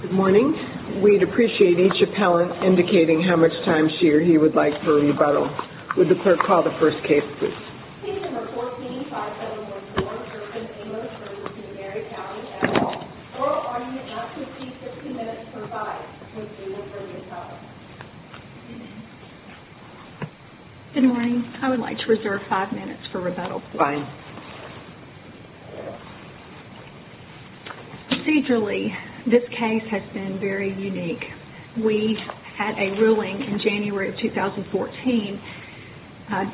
Good morning. We'd appreciate each appellant indicating how much time she or he would like to rebuttal. Would the clerk call the first case, please? Case No. 14-5714, Ferfin Amos v. McNairy County, at all. Oral argument not to exceed 15 minutes for five. Good morning. I would like to reserve five minutes for rebuttal, please. Fine. Procedurally, this case has been very unique. We had a ruling in January of 2014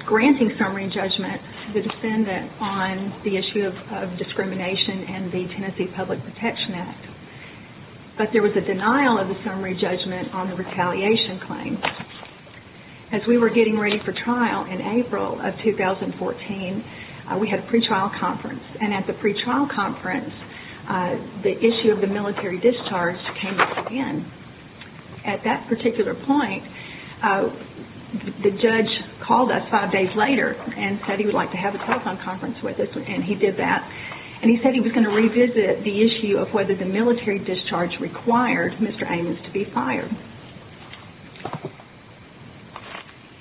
granting summary judgment to the defendant on the issue of discrimination and the Tennessee Public Protection Act. But there was a denial of the summary judgment on the retaliation claim. As we were getting ready for trial in April of 2014, we had a pretrial conference. And at the pretrial conference, the issue of the military discharge came up again. At that particular point, the judge called us five days later and said he would like to have a telephone conference with us. And he did that. And he said he was going to revisit the issue of whether the military discharge required Mr. Amos to be fired.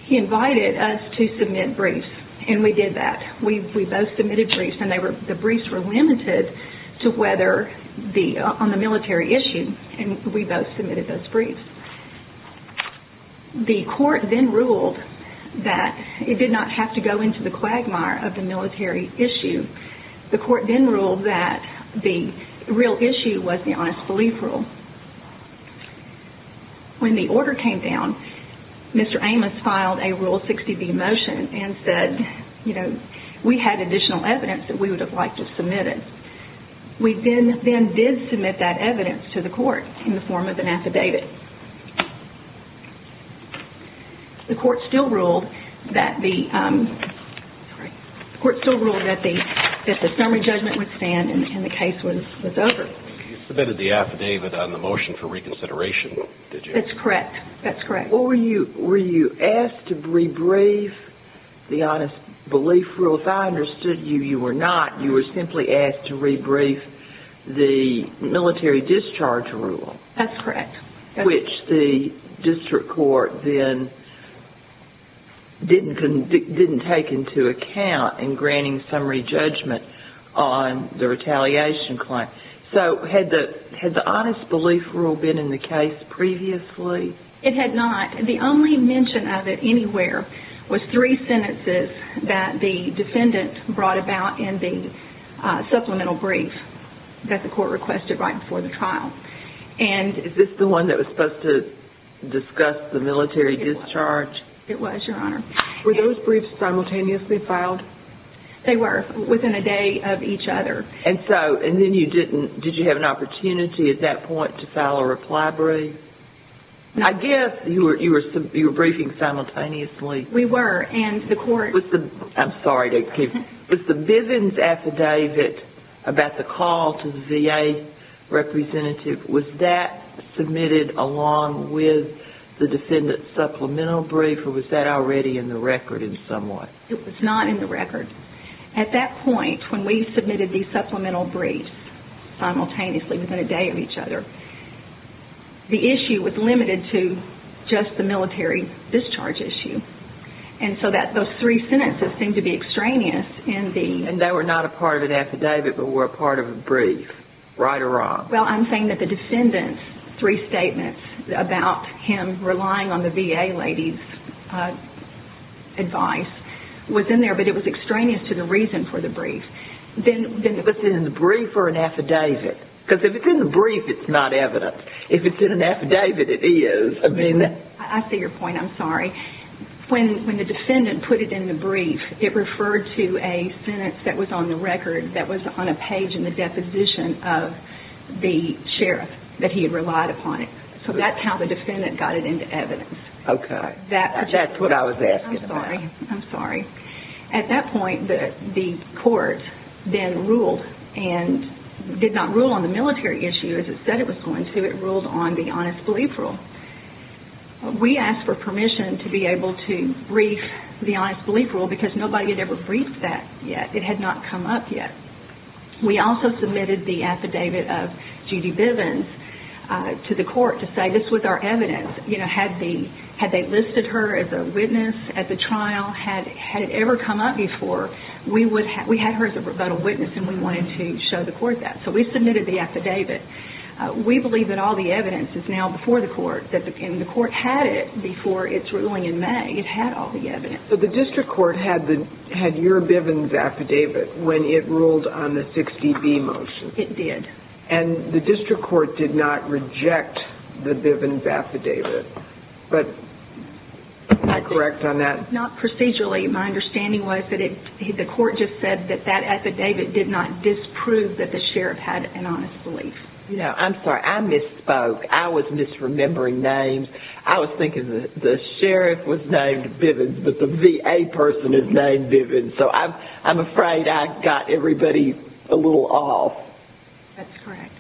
He invited us to submit briefs. And we did that. We both submitted briefs. And the briefs were limited to whether on the military issue. And we both submitted those briefs. The court then ruled that it did not have to go into the quagmire of the military issue. The court then ruled that the real issue was the honest belief rule. When the order came down, Mr. Amos filed a Rule 60b motion and said, you know, we had additional evidence that we would have liked to submit it. We then did submit that evidence to the court in the form of an affidavit. The court still ruled that the summary judgment would stand and the case was over. You submitted the affidavit on the motion for reconsideration, did you? That's correct. That's correct. Were you asked to rebrief the honest belief rule? If I understood you, you were not. You were simply asked to rebrief the military discharge rule. That's correct. Which the district court then didn't take into account in granting summary judgment on the retaliation claim. So had the honest belief rule been in the case previously? It had not. The only mention of it anywhere was three sentences that the defendant brought about in the supplemental brief that the court requested right before the trial. Is this the one that was supposed to discuss the military discharge? It was, Your Honor. Were those briefs simultaneously filed? They were, within a day of each other. Did you have an opportunity at that point to file a reply brief? I guess you were briefing simultaneously. We were. Was the Bivens affidavit about the call to the VA representative, was that submitted along with the defendant's supplemental brief or was that already in the record in some way? It was not in the record. At that point, when we submitted these supplemental briefs simultaneously within a day of each other, the issue was limited to just the military discharge issue. And so those three sentences seemed to be extraneous. And they were not a part of an affidavit but were a part of a brief, right or wrong? Well, I'm saying that the defendant's three statements about him relying on the VA lady's advice was in there, but it was extraneous to the reason for the brief. Then was it in the brief or an affidavit? Because if it's in the brief, it's not evidence. If it's in an affidavit, it is. I see your point. I'm sorry. When the defendant put it in the brief, it referred to a sentence that was on the record that was on a page in the deposition of the sheriff that he had relied upon it. So that's how the defendant got it into evidence. Okay. That's what I was asking about. At that point, the court then ruled and did not rule on the military issue as it said it was going to. It ruled on the honest belief rule. We asked for permission to be able to brief the honest belief rule because nobody had ever briefed that yet. It had not come up yet. We also submitted the affidavit of Judy Bivens to the court to say this was our evidence. Had they listed her as a witness at the trial? Had it ever come up before? We had her as a rebuttal witness, and we wanted to show the court that. So we submitted the affidavit. We believe that all the evidence is now before the court, and the court had it before its ruling in May. It had all the evidence. But the district court had your Bivens affidavit when it ruled on the 60B motion. It did. And the district court did not reject the Bivens affidavit, but am I correct on that? Not procedurally. My understanding was that the court just said that that affidavit did not disprove that the sheriff had an honest belief. I'm sorry. I misspoke. I was misremembering names. I was thinking the sheriff was named Bivens, but the VA person is named Bivens. So I'm afraid I got everybody a little off. That's correct.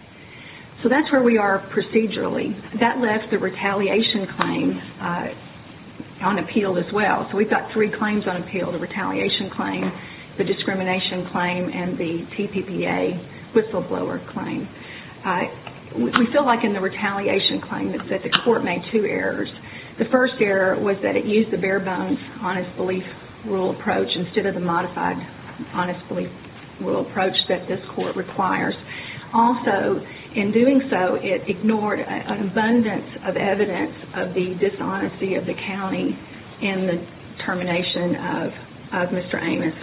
So that's where we are procedurally. That left the retaliation claim unappealed as well. So we've got three claims unappealed, the retaliation claim, the discrimination claim, and the TPPA whistleblower claim. We feel like in the retaliation claim that the court made two errors. The first error was that it used the bare-bones honest belief rule approach instead of the modified honest belief rule approach that this court requires. Also, in doing so, it ignored an abundance of evidence of the dishonesty of the county in the termination of Mr. Amos.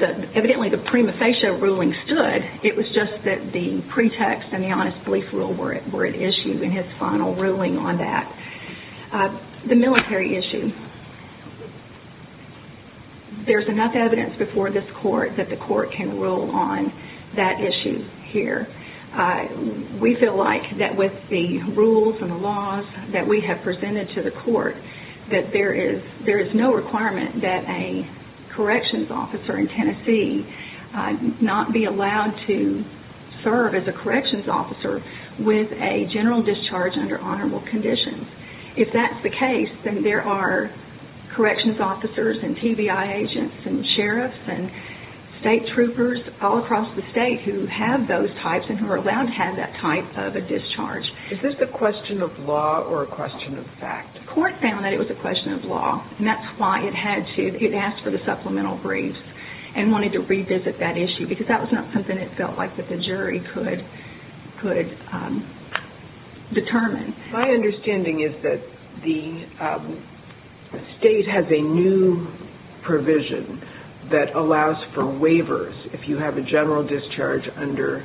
Evidently, the prima facie ruling stood. It was just that the pretext and the honest belief rule were at issue in his final ruling on that. The military issue, there's enough evidence before this court that the court can rule on that issue here. We feel like that with the rules and the laws that we have presented to the court, that there is no requirement that a corrections officer in Tennessee not be allowed to serve as a corrections officer with a general discharge under honorable conditions. If that's the case, then there are corrections officers and TBI agents and sheriffs and state troopers all across the state who have those types and who are allowed to have that type of a discharge. Is this a question of law or a question of fact? The court found that it was a question of law, and that's why it had to. It asked for the supplemental briefs and wanted to revisit that issue because that was not something it felt like that the jury could determine. My understanding is that the state has a new provision that allows for waivers if you have a general discharge under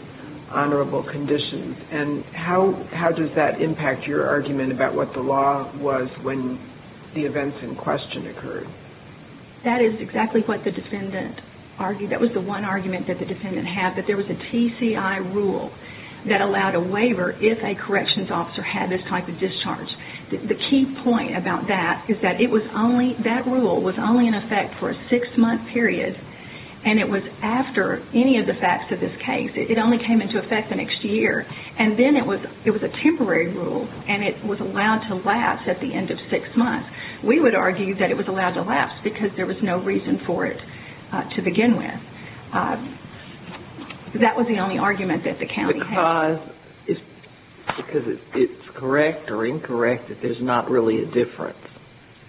honorable conditions. How does that impact your argument about what the law was when the events in question occurred? That is exactly what the defendant argued. That was the one argument that the defendant had, that there was a TCI rule that allowed a waiver if a corrections officer had this type of discharge. The key point about that is that that rule was only in effect for a six-month period, and it was after any of the facts of this case. It only came into effect the next year. And then it was a temporary rule, and it was allowed to last at the end of six months. We would argue that it was allowed to last because there was no reason for it to begin with. That was the only argument that the county had. Because it's correct or incorrect that there's not really a difference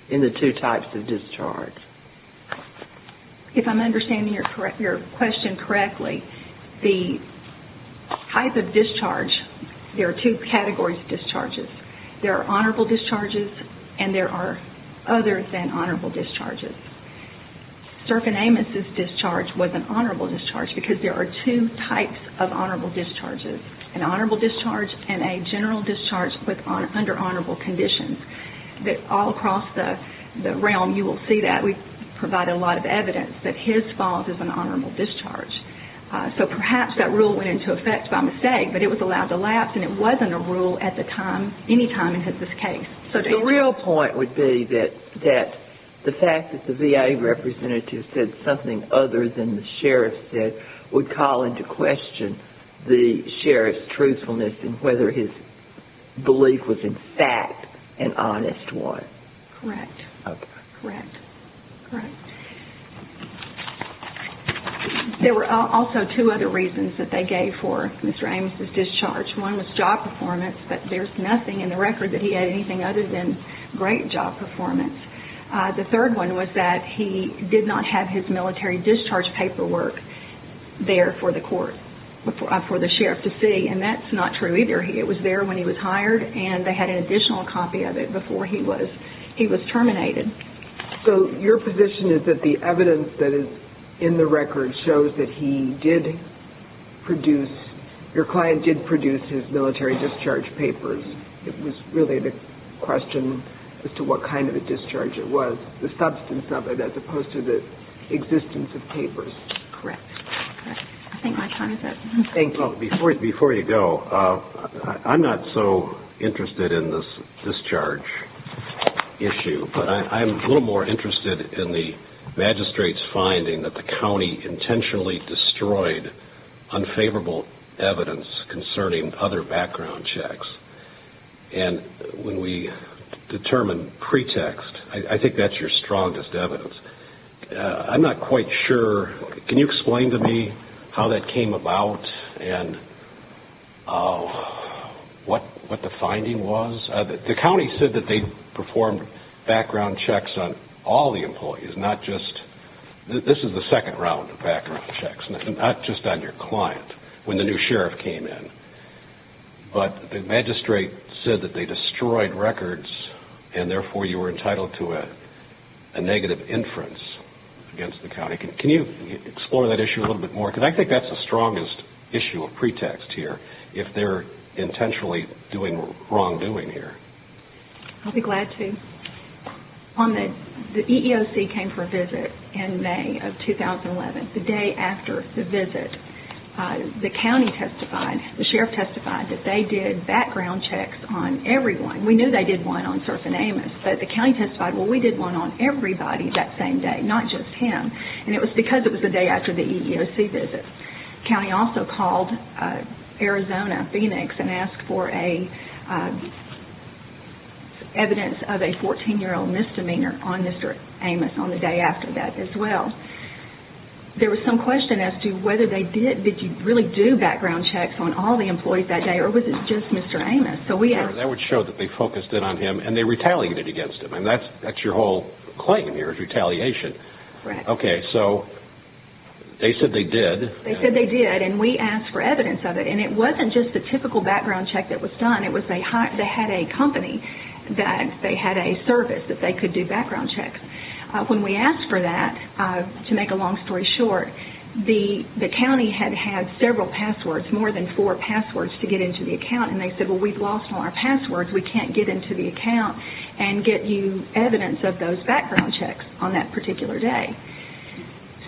in the two types of discharge. If I'm understanding your question correctly, the type of discharge, there are two categories of discharges. There are honorable discharges, and there are others than honorable discharges. Sturgeon Amos' discharge was an honorable discharge because there are two types of honorable discharges, an honorable discharge and a general discharge under honorable conditions. All across the realm, you will see that. We provide a lot of evidence that his fault is an honorable discharge. So perhaps that rule went into effect by mistake, but it was allowed to last, and it wasn't a rule at any time in his case. The real point would be that the fact that the VA representative said something other than the sheriff said would call into question the sheriff's truthfulness and whether his belief was in fact an honest one. Correct. Okay. Correct. Correct. There were also two other reasons that they gave for Mr. Amos' discharge. One was job performance, but there's nothing in the record that he had anything other than great job performance. The third one was that he did not have his military discharge paperwork there for the court, for the sheriff to see, and that's not true either. It was there when he was hired, and they had an additional copy of it before he was terminated. So your position is that the evidence that is in the record shows that he did produce, your client did produce his military discharge papers. It was really the question as to what kind of a discharge it was, the substance of it, as opposed to the existence of papers. Correct. Okay. I think my time is up. Thank you. Well, before you go, I'm not so interested in this discharge issue, but I'm a little more interested in the magistrate's finding that the county intentionally destroyed unfavorable evidence concerning other background checks, and when we determine pretext, I think that's your strongest evidence. I'm not quite sure, can you explain to me how that came about and what the finding was? The county said that they performed background checks on all the employees, not just, this is the second round of background checks, not just on your client when the new sheriff came in, but the magistrate said that they destroyed records and therefore you were entitled to a negative inference against the county. Can you explore that issue a little bit more? Because I think that's the strongest issue of pretext here, if they're intentionally doing wrongdoing here. I'll be glad to. The EEOC came for a visit in May of 2011. The day after the visit, the county testified, the sheriff testified that they did background checks on everyone. We knew they did one on Serf and Amos, but the county testified, well, we did one on everybody that same day, not just him, and it was because it was the day after the EEOC visit. The county also called Arizona Phoenix and asked for evidence of a 14-year-old misdemeanor on Mr. Amos on the day after that as well. There was some question as to whether they did really do background checks on all the employees that day, or was it just Mr. Amos? That would show that they focused in on him and they retaliated against him, and that's your whole claim here is retaliation. Right. Okay, so they said they did. They said they did, and we asked for evidence of it, and it wasn't just the typical background check that was done. It was they had a company that they had a service that they could do background checks. When we asked for that, to make a long story short, the county had had several passwords, more than four passwords, to get into the account, and they said, well, we've lost all our passwords. We can't get into the account and get you evidence of those background checks on that particular day.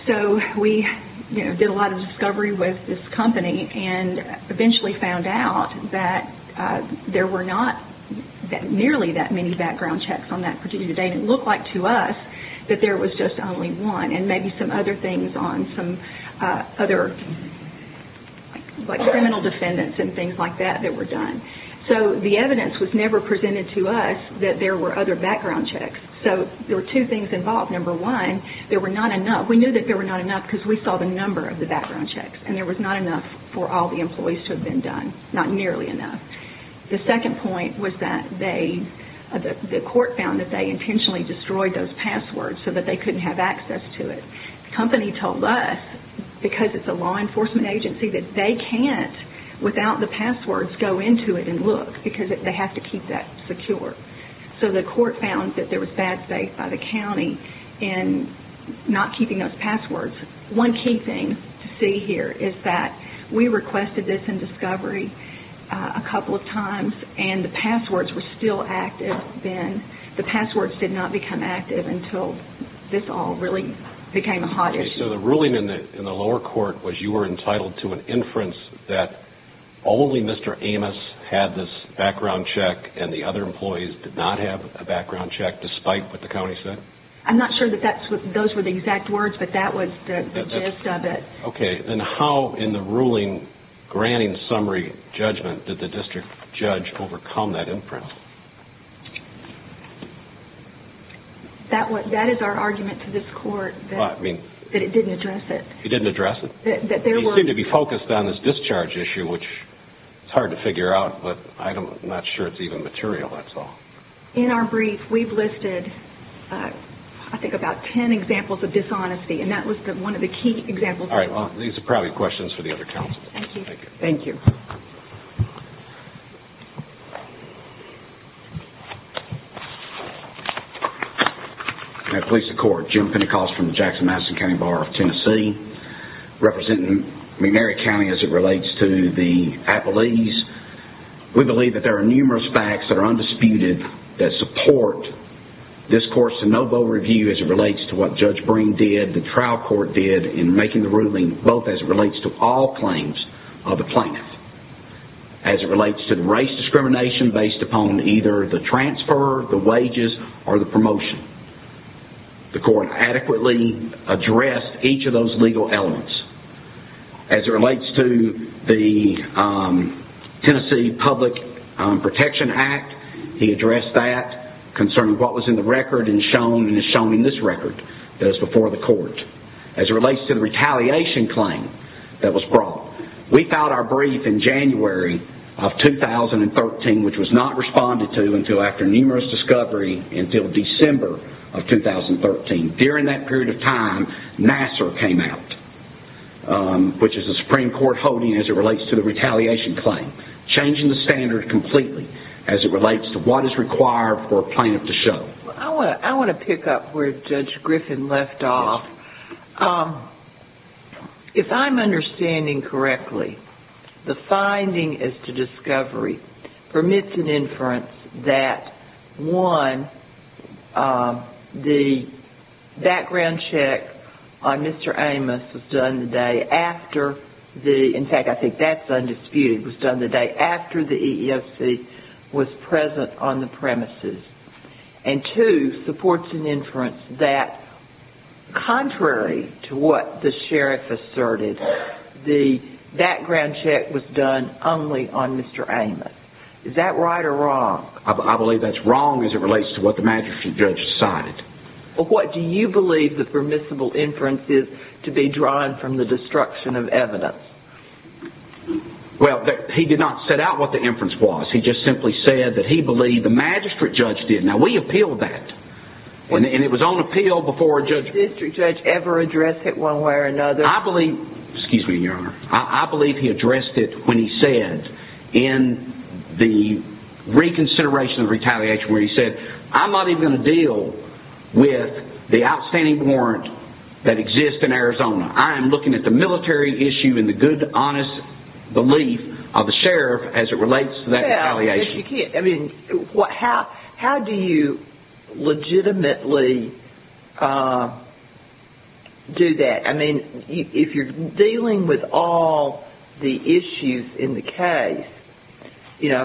So we did a lot of discovery with this company and eventually found out that there were not nearly that many background checks on that particular day, and it looked like to us that there was just only one and maybe some other things on some other criminal defendants and things like that that were done. So the evidence was never presented to us that there were other background checks. So there were two things involved. Number one, there were not enough. We knew that there were not enough because we saw the number of the background checks, and there was not enough for all the employees to have been done, not nearly enough. The second point was that they, the court found that they intentionally destroyed those passwords so that they couldn't have access to it. The company told us, because it's a law enforcement agency, that they can't, without the passwords, go into it and look because they have to keep that secure. So the court found that there was bad faith by the county in not keeping those passwords. One key thing to see here is that we requested this in discovery a couple of times, and the passwords were still active then. The passwords did not become active until this all really became a hot issue. So the ruling in the lower court was you were entitled to an inference that only Mr. Amos had this background check and the other employees did not have a background check despite what the county said? I'm not sure that those were the exact words, but that was the gist of it. Okay. Then how in the ruling granting summary judgment did the district judge overcome that inference? That is our argument to this court, that it didn't address it. It didn't address it? They seem to be focused on this discharge issue, which is hard to figure out, but I'm not sure it's even material, that's all. In our brief, we've listed, I think, about ten examples of dishonesty, and that was one of the key examples. All right. Well, these are probably questions for the other counsel. Thank you. Thank you. I'm going to place the court. Jim Pentecost from the Jackson-Madison County Bar of Tennessee. Representing McNary County as it relates to the appellees. We believe that there are numerous facts that are undisputed that support this court's de novo review as it relates to what Judge Breen did, the trial court did in making the ruling, both as it relates to all claims of the plaintiff, as it relates to the race discrimination based upon either the transfer, the wages, or the promotion. The court adequately addressed each of those legal elements. As it relates to the Tennessee Public Protection Act, he addressed that concerning what was in the record and shown, and is shown in this record that is before the court. As it relates to the retaliation claim that was brought. We filed our brief in January of 2013, which was not responded to until after numerous discovery until December of 2013. During that period of time, Nassar came out, which is a Supreme Court holding as it relates to the retaliation claim. Changing the standard completely as it relates to what is required for a plaintiff to show. I want to pick up where Judge Griffin left off. If I'm understanding correctly, the finding as to discovery permits an inference that, one, the background check on Mr. Amos was done the day after the, in fact, I think that's undisputed, was done the day after the EEOC was present on the premises. And two, supports an inference that, contrary to what the sheriff asserted, the background check was done only on Mr. Amos. Is that right or wrong? I believe that's wrong as it relates to what the magistrate judge decided. What do you believe the permissible inference is to be drawn from the destruction of evidence? Well, he did not set out what the inference was. He just simply said that he believed the magistrate judge did. Now, we appealed that, and it was on appeal before a judge. Did the district judge ever address it one way or another? I believe, excuse me, Your Honor, I believe he addressed it when he said in the reconsideration of retaliation where he said, I'm not even going to deal with the outstanding warrant that exists in Arizona. I am looking at the military issue and the good, honest belief of the sheriff as it relates to that retaliation. Well, you can't, I mean, how do you legitimately do that? I mean, if you're dealing with all the issues in the case, you know,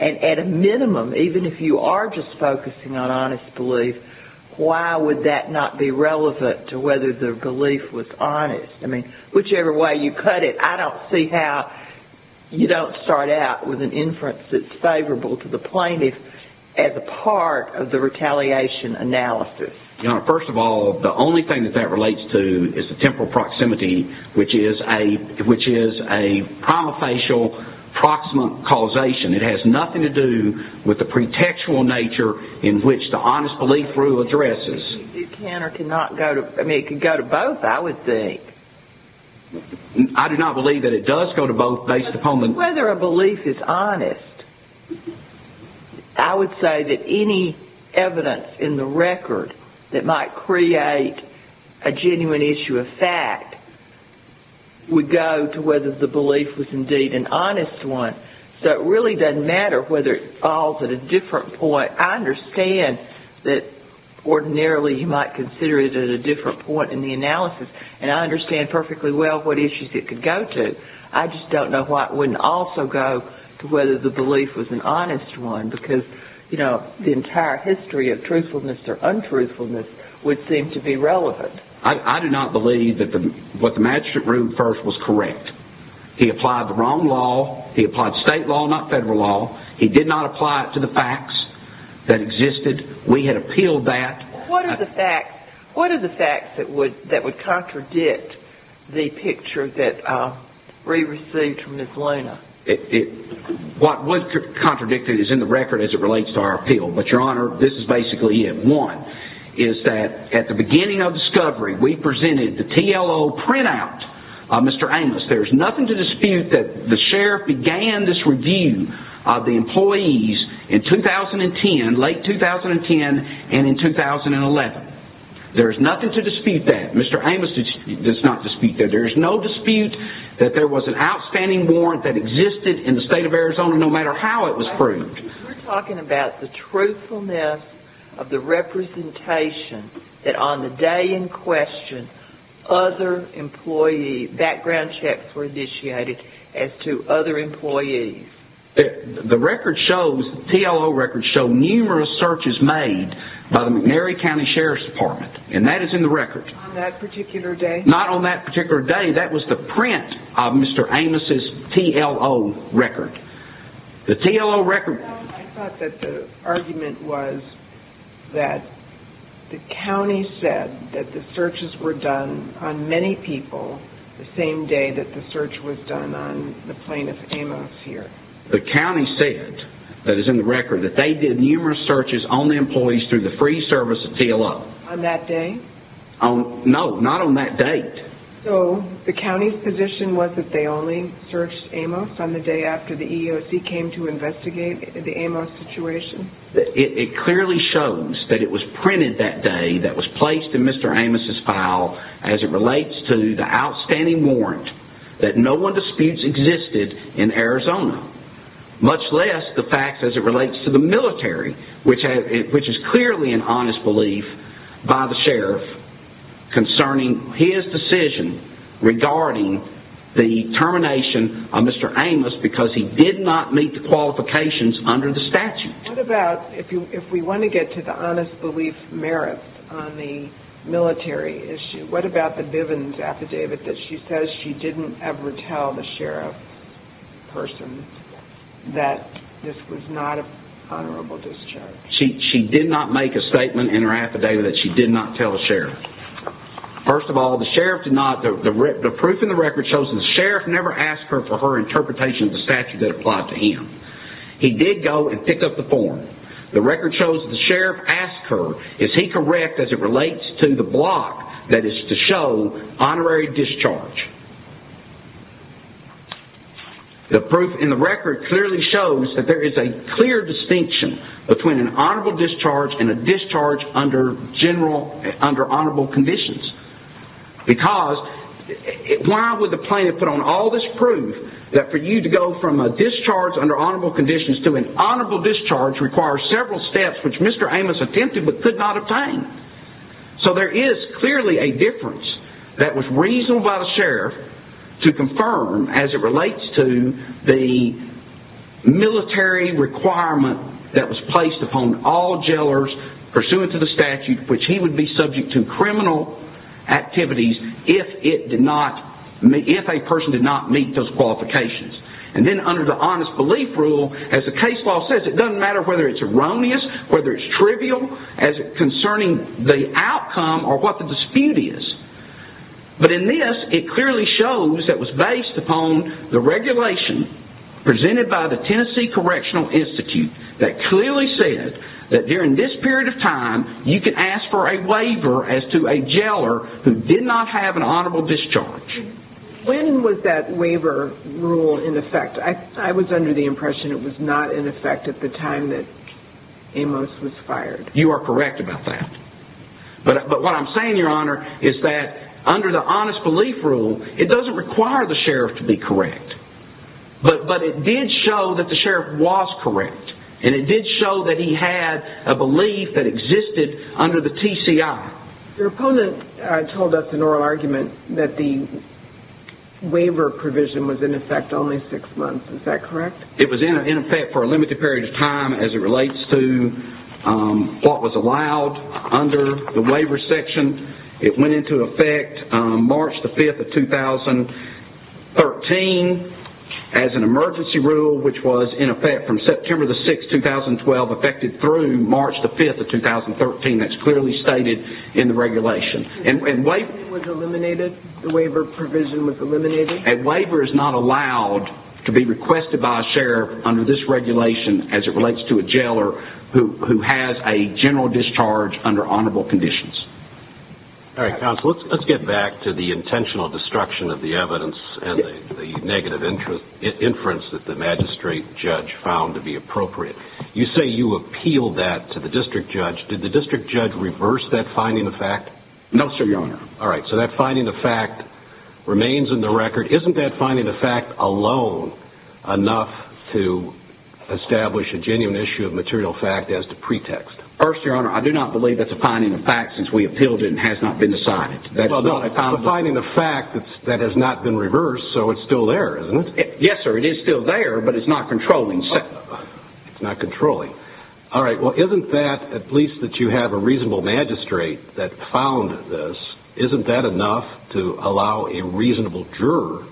and at a minimum, even if you are just focusing on honest belief, why would that not be relevant to whether the belief was honest? I mean, whichever way you cut it, I don't see how you don't start out with an inference that's favorable to the plaintiff as a part of the retaliation analysis. Your Honor, first of all, the only thing that that relates to is the temporal proximity, which is a prima facie proximate causation. It has nothing to do with the pretextual nature in which the honest belief rule addresses. It can or cannot go to, I mean, it could go to both, I would think. I do not believe that it does go to both based upon the- would go to whether the belief was indeed an honest one. So it really doesn't matter whether it falls at a different point. I understand that ordinarily you might consider it at a different point in the analysis, and I understand perfectly well what issues it could go to. I just don't know why it wouldn't also go to whether the belief was an honest one, because, you know, the entire history of truthfulness or untruthfulness would seem to be relevant. I do not believe that what the magistrate ruled first was correct. He applied the wrong law. He applied state law, not federal law. He did not apply it to the facts that existed. We had appealed that. What are the facts that would contradict the picture that we received from Ms. Luna? What was contradicted is in the record as it relates to our appeal. But, Your Honor, this is basically it. One is that at the beginning of discovery we presented the TLO printout of Mr. Amos. There is nothing to dispute that the sheriff began this review of the employees in 2010, late 2010, and in 2011. There is nothing to dispute that. Mr. Amos does not dispute that. There is no dispute that there was an outstanding warrant that existed in the state of Arizona no matter how it was proved. We're talking about the truthfulness of the representation that on the day in question, other employee background checks were initiated as to other employees. The record shows, the TLO record shows numerous searches made by the McNary County Sheriff's Department. And that is in the record. On that particular day? Not on that particular day. That was the print of Mr. Amos' TLO record. The TLO record... I thought that the argument was that the county said that the searches were done on many people the same day that the search was done on the plaintiff, Amos, here. The county said, that is in the record, that they did numerous searches on the employees through the free service of TLO. On that day? No, not on that date. So, the county's position was that they only searched Amos on the day after the EEOC came to investigate the Amos situation? It clearly shows that it was printed that day, that was placed in Mr. Amos' file, as it relates to the outstanding warrant that no one disputes existed in Arizona. Much less the facts as it relates to the military, which is clearly an honest belief by the sheriff, concerning his decision regarding the termination of Mr. Amos because he did not meet the qualifications under the statute. What about, if we want to get to the honest belief merits on the military issue, what about the Bivens affidavit that she says she didn't ever tell the sheriff person that this was not a honorable discharge? She did not make a statement in her affidavit that she did not tell the sheriff. First of all, the sheriff did not, the proof in the record shows that the sheriff never asked her for her interpretation of the statute that applied to him. He did go and pick up the form. The record shows that the sheriff asked her, is he correct as it relates to the block that is to show honorary discharge? The proof in the record clearly shows that there is a clear distinction between an honorable discharge and a discharge under general, under honorable conditions. Because, why would the plaintiff put on all this proof that for you to go from a discharge under honorable conditions to an honorable discharge requires several steps which Mr. Amos attempted but could not obtain? So there is clearly a difference that was reasoned by the sheriff to confirm as it relates to the military requirement that was placed upon all jailers pursuant to the statute which he would be subject to criminal activities if it did not, if a person did not meet those qualifications. And then under the honest belief rule, as the case law says, it doesn't matter whether it's erroneous, whether it's trivial as concerning the outcome or what the dispute is. But in this, it clearly shows that was based upon the regulation presented by the Tennessee Correctional Institute that clearly said that during this period of time, you can ask for a waiver as to a jailer who did not have an honorable discharge. When was that waiver rule in effect? I was under the impression it was not in effect at the time that Amos was fired. You are correct about that. But what I'm saying, Your Honor, is that under the honest belief rule, it doesn't require the sheriff to be correct. But it did show that the sheriff was correct and it did show that he had a belief that existed under the TCI. Your opponent told us in oral argument that the waiver provision was in effect only six months. Is that correct? It was in effect for a limited period of time as it relates to what was allowed under the waiver section. It went into effect March the 5th of 2013 as an emergency rule, which was in effect from September the 6th, 2012, effective through March the 5th of 2013. That's clearly stated in the regulation. The waiver provision was eliminated? A waiver is not allowed to be requested by a sheriff under this regulation as it relates to a jailer who has a general discharge under honorable conditions. All right, counsel. Let's get back to the intentional destruction of the evidence and the negative inference that the magistrate judge found to be appropriate. You say you appealed that to the district judge. Did the district judge reverse that finding of fact? No, sir, Your Honor. All right, so that finding of fact remains in the record. Isn't that finding of fact alone enough to establish a genuine issue of material fact as the pretext? First, Your Honor, I do not believe that's a finding of fact since we appealed it and it has not been decided. It's a finding of fact that has not been reversed, so it's still there, isn't it? Yes, sir, it is still there, but it's not controlling. It's not controlling. All right, well, isn't that, at least that you have a reasonable magistrate that found this, isn't that enough to allow a reasonable juror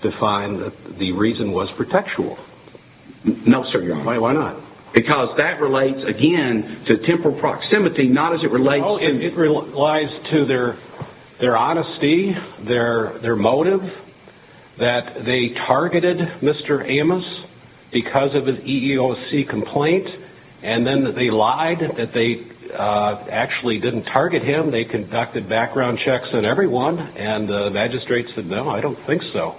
to find that the reason was pretextual? No, sir, Your Honor. Why not? Because that relates, again, to temporal proximity, not as it relates to... because of an EEOC complaint and then they lied that they actually didn't target him. They conducted background checks on everyone and the magistrate said, no, I don't think so.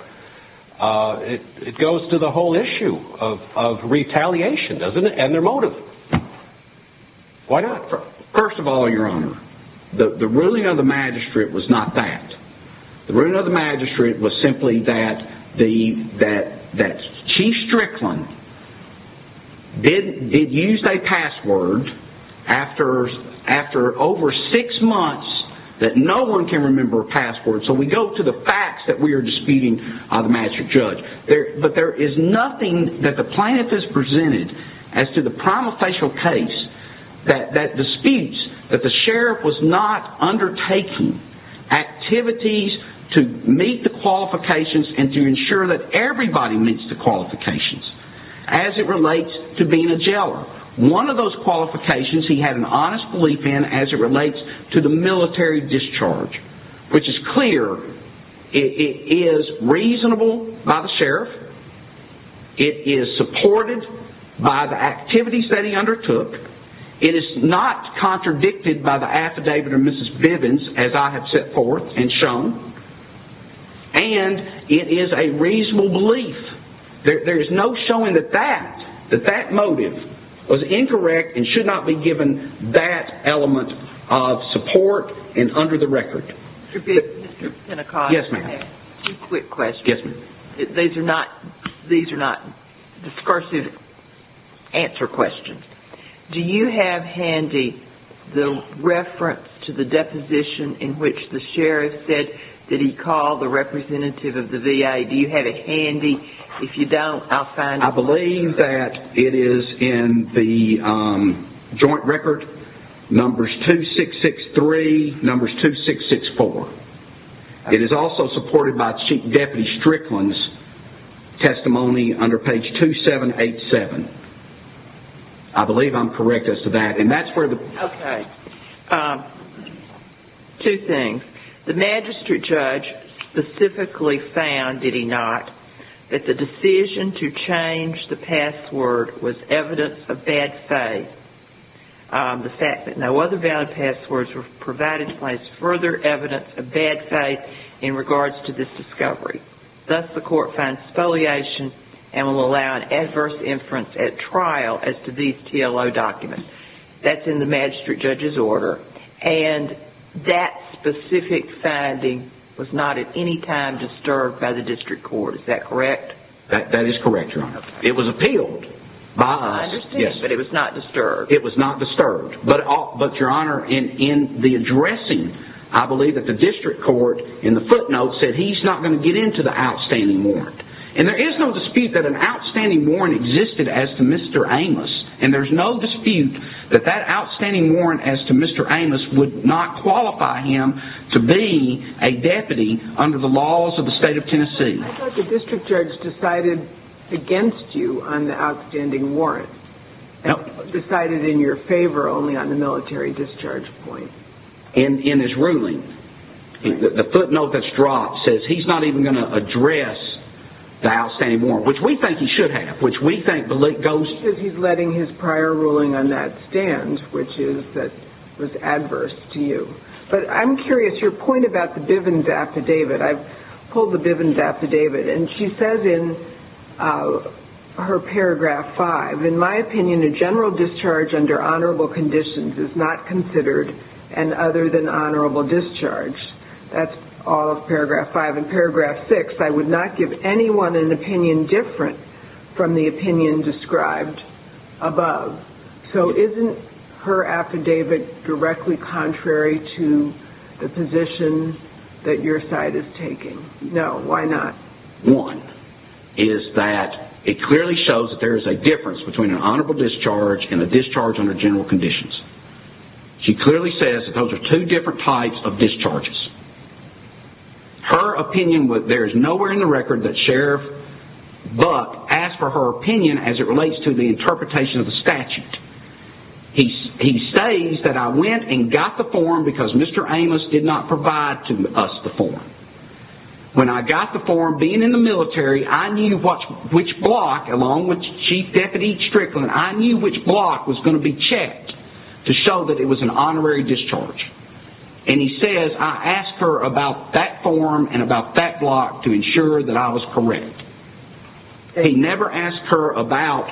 It goes to the whole issue of retaliation, doesn't it, and their motive. Why not? First of all, Your Honor, the ruling of the magistrate was not that. The ruling of the magistrate was simply that Chief Strickland did use a password after over six months that no one can remember a password, so we go to the facts that we are disputing on the magistrate judge. But there is nothing that the plaintiff has presented as to the prima facie case that disputes that the sheriff was not undertaking activities to meet the qualifications and to ensure that everybody meets the qualifications as it relates to being a jailer. One of those qualifications he had an honest belief in as it relates to the military discharge, which is clear. It is reasonable by the sheriff. It is supported by the activities that he undertook. It is not contradicted by the affidavit of Mrs. Bivens, as I have set forth and shown, and it is a reasonable belief. There is no showing that that motive was incorrect and should not be given that element of support and under the record. Mr. Pinnacott, I have two quick questions. These are not discursive answer questions. Do you have handy the reference to the deposition in which the sheriff said that he called the representative of the VA? Do you have it handy? If you don't, I'll find it. I believe that it is in the joint record numbers 2663, numbers 2664. It is also supported by Chief Deputy Strickland's testimony under page 2787. I believe I'm correct as to that. Okay. Two things. The magistrate judge specifically found, did he not, that the decision to change the password was evidence of bad faith. The fact that no other valid passwords were provided provides further evidence of bad faith in regards to this discovery. Thus, the court finds spoliation and will allow an adverse inference at trial as to these TLO documents. That's in the magistrate judge's order. And that specific finding was not at any time disturbed by the district court. Is that correct? That is correct, Your Honor. It was appealed by us. It was not disturbed. But, Your Honor, in the addressing, I believe that the district court in the footnote said he's not going to get into the outstanding warrant. And there is no dispute that an outstanding warrant existed as to Mr. Amos. And there's no dispute that that outstanding warrant as to Mr. Amos would not qualify him to be a deputy under the laws of the state of Tennessee. I thought the district judge decided against you on the outstanding warrant. No. Decided in your favor only on the military discharge point. In his ruling, the footnote that's dropped says he's not even going to address the outstanding warrant, which we think he should have. Which we think goes... He says he's letting his prior ruling on that stand, which is that it was adverse to you. But I'm curious, your point about the Bivens affidavit. I pulled the Bivens affidavit, and she says in her paragraph 5, in my opinion, a general discharge under honorable conditions is not considered an other than honorable discharge. That's all of paragraph 5. In paragraph 6, I would not give anyone an opinion different from the opinion described above. So isn't her affidavit directly contrary to the position that your side is taking? No. Why not? One is that it clearly shows that there is a difference between an honorable discharge and a discharge under general conditions. She clearly says that those are two different types of discharges. There is nowhere in the record that Sheriff Buck asked for her opinion as it relates to the interpretation of the statute. He says that I went and got the form because Mr. Amos did not provide to us the form. When I got the form, being in the military, I knew which block, along with Chief Deputy Strickland, I knew which block was going to be checked to show that it was an honorary discharge. And he says I asked her about that form and about that block to ensure that I was correct. He never asked her about...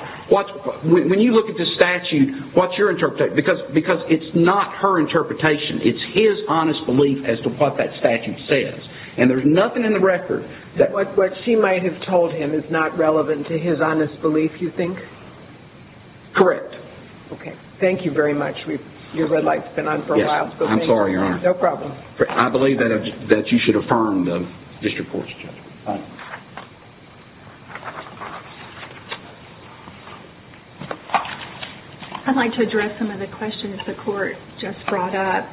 When you look at the statute, what's your interpretation? Because it's not her interpretation. It's his honest belief as to what that statute says. And there's nothing in the record that... What she might have told him is not relevant to his honest belief, you think? Correct. Thank you very much. Your red light's been on for a while. I'm sorry, Your Honor. No problem. I believe that you should affirm the district court's judgment. I'd like to address some of the questions the court just brought up.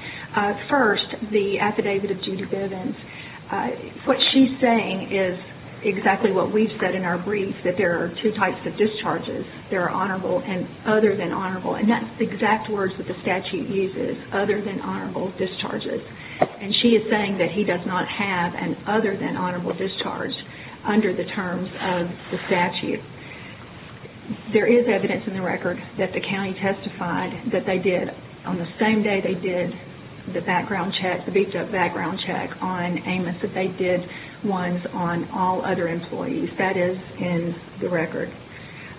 First, the affidavit of Judy Bivens. What she's saying is exactly what we've said in our brief, that there are two types of discharges. There are honorable and other than honorable. And that's the exact words that the statute uses, other than honorable discharges. And she is saying that he does not have an other than honorable discharge under the terms of the statute. There is evidence in the record that the county testified that they did, on the same day they did, the background check, the beefed up background check on Amos, that they did ones on all other employees. That is in the record.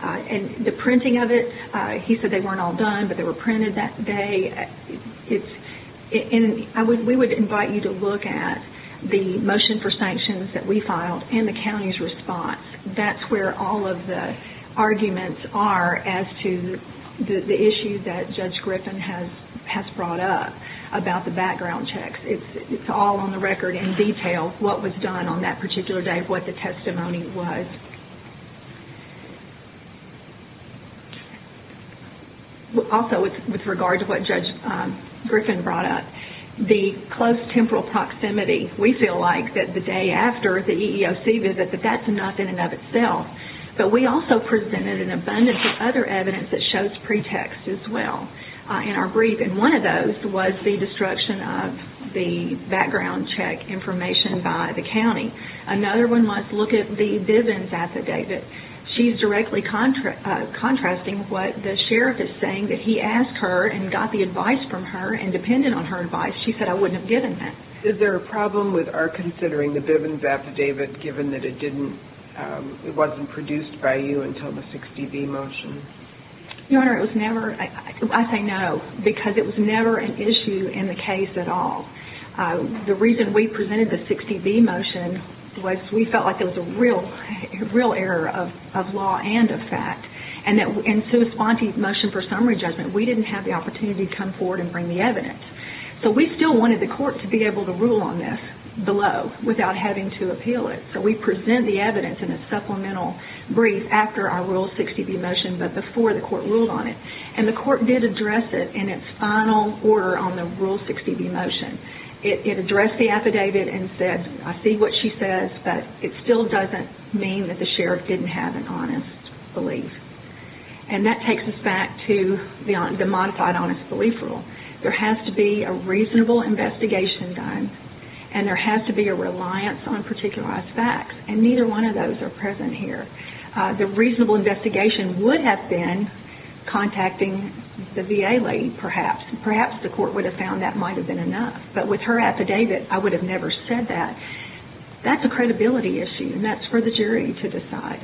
And the printing of it, he said they weren't all done, but they were printed that day. We would invite you to look at the motion for sanctions that we filed and the county's response. That's where all of the arguments are as to the issue that Judge Griffin has brought up about the background checks. It's all on the record in detail, what was done on that particular day, what the testimony was. Also, with regard to what Judge Griffin brought up, the close temporal proximity. We feel like that the day after the EEOC visit, that that's enough in and of itself. But we also presented an abundance of other evidence that shows pretext as well in our brief. And one of those was the destruction of the background check information by the county. Another one was look at the Bivens affidavit. She's directly contrasting what the sheriff is saying, that he asked her and got the advice from her and depended on her advice. She said, I wouldn't have given that. Is there a problem with our considering the Bivens affidavit, given that it didn't, it wasn't produced by you until the 60B motion? Your Honor, it was never, I say no, because it was never an issue in the case at all. The reason we presented the 60B motion was we felt like it was a real error of law and of fact. And that in sui sponte motion for summary judgment, we didn't have the opportunity to come forward and bring the evidence. So we still wanted the court to be able to rule on this below, without having to appeal it. So we present the evidence in a supplemental brief after our rule 60B motion, but before the court ruled on it. And the court did address it in its final order on the rule 60B motion. It addressed the affidavit and said, I see what she says, but it still doesn't mean that the sheriff didn't have an honest belief. And that takes us back to the modified honest belief rule. There has to be a reasonable investigation done and there has to be a reliance on particularized facts. And neither one of those are present here. The reasonable investigation would have been contacting the VA lady, perhaps. Perhaps the court would have found that might have been enough. But with her affidavit, I would have never said that. That's a credibility issue and that's for the jury to decide.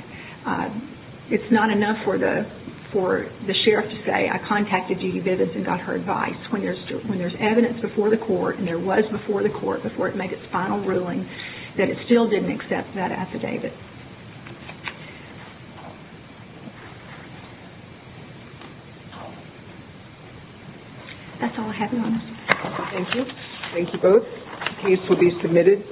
It's not enough for the sheriff to say, I contacted Judy Bivins and got her advice. When there's evidence before the court and there was before the court, before it made its final ruling, that it still didn't accept that affidavit. That's all I have, Your Honor. Thank you. Thank you both. The case will be submitted. Thank you.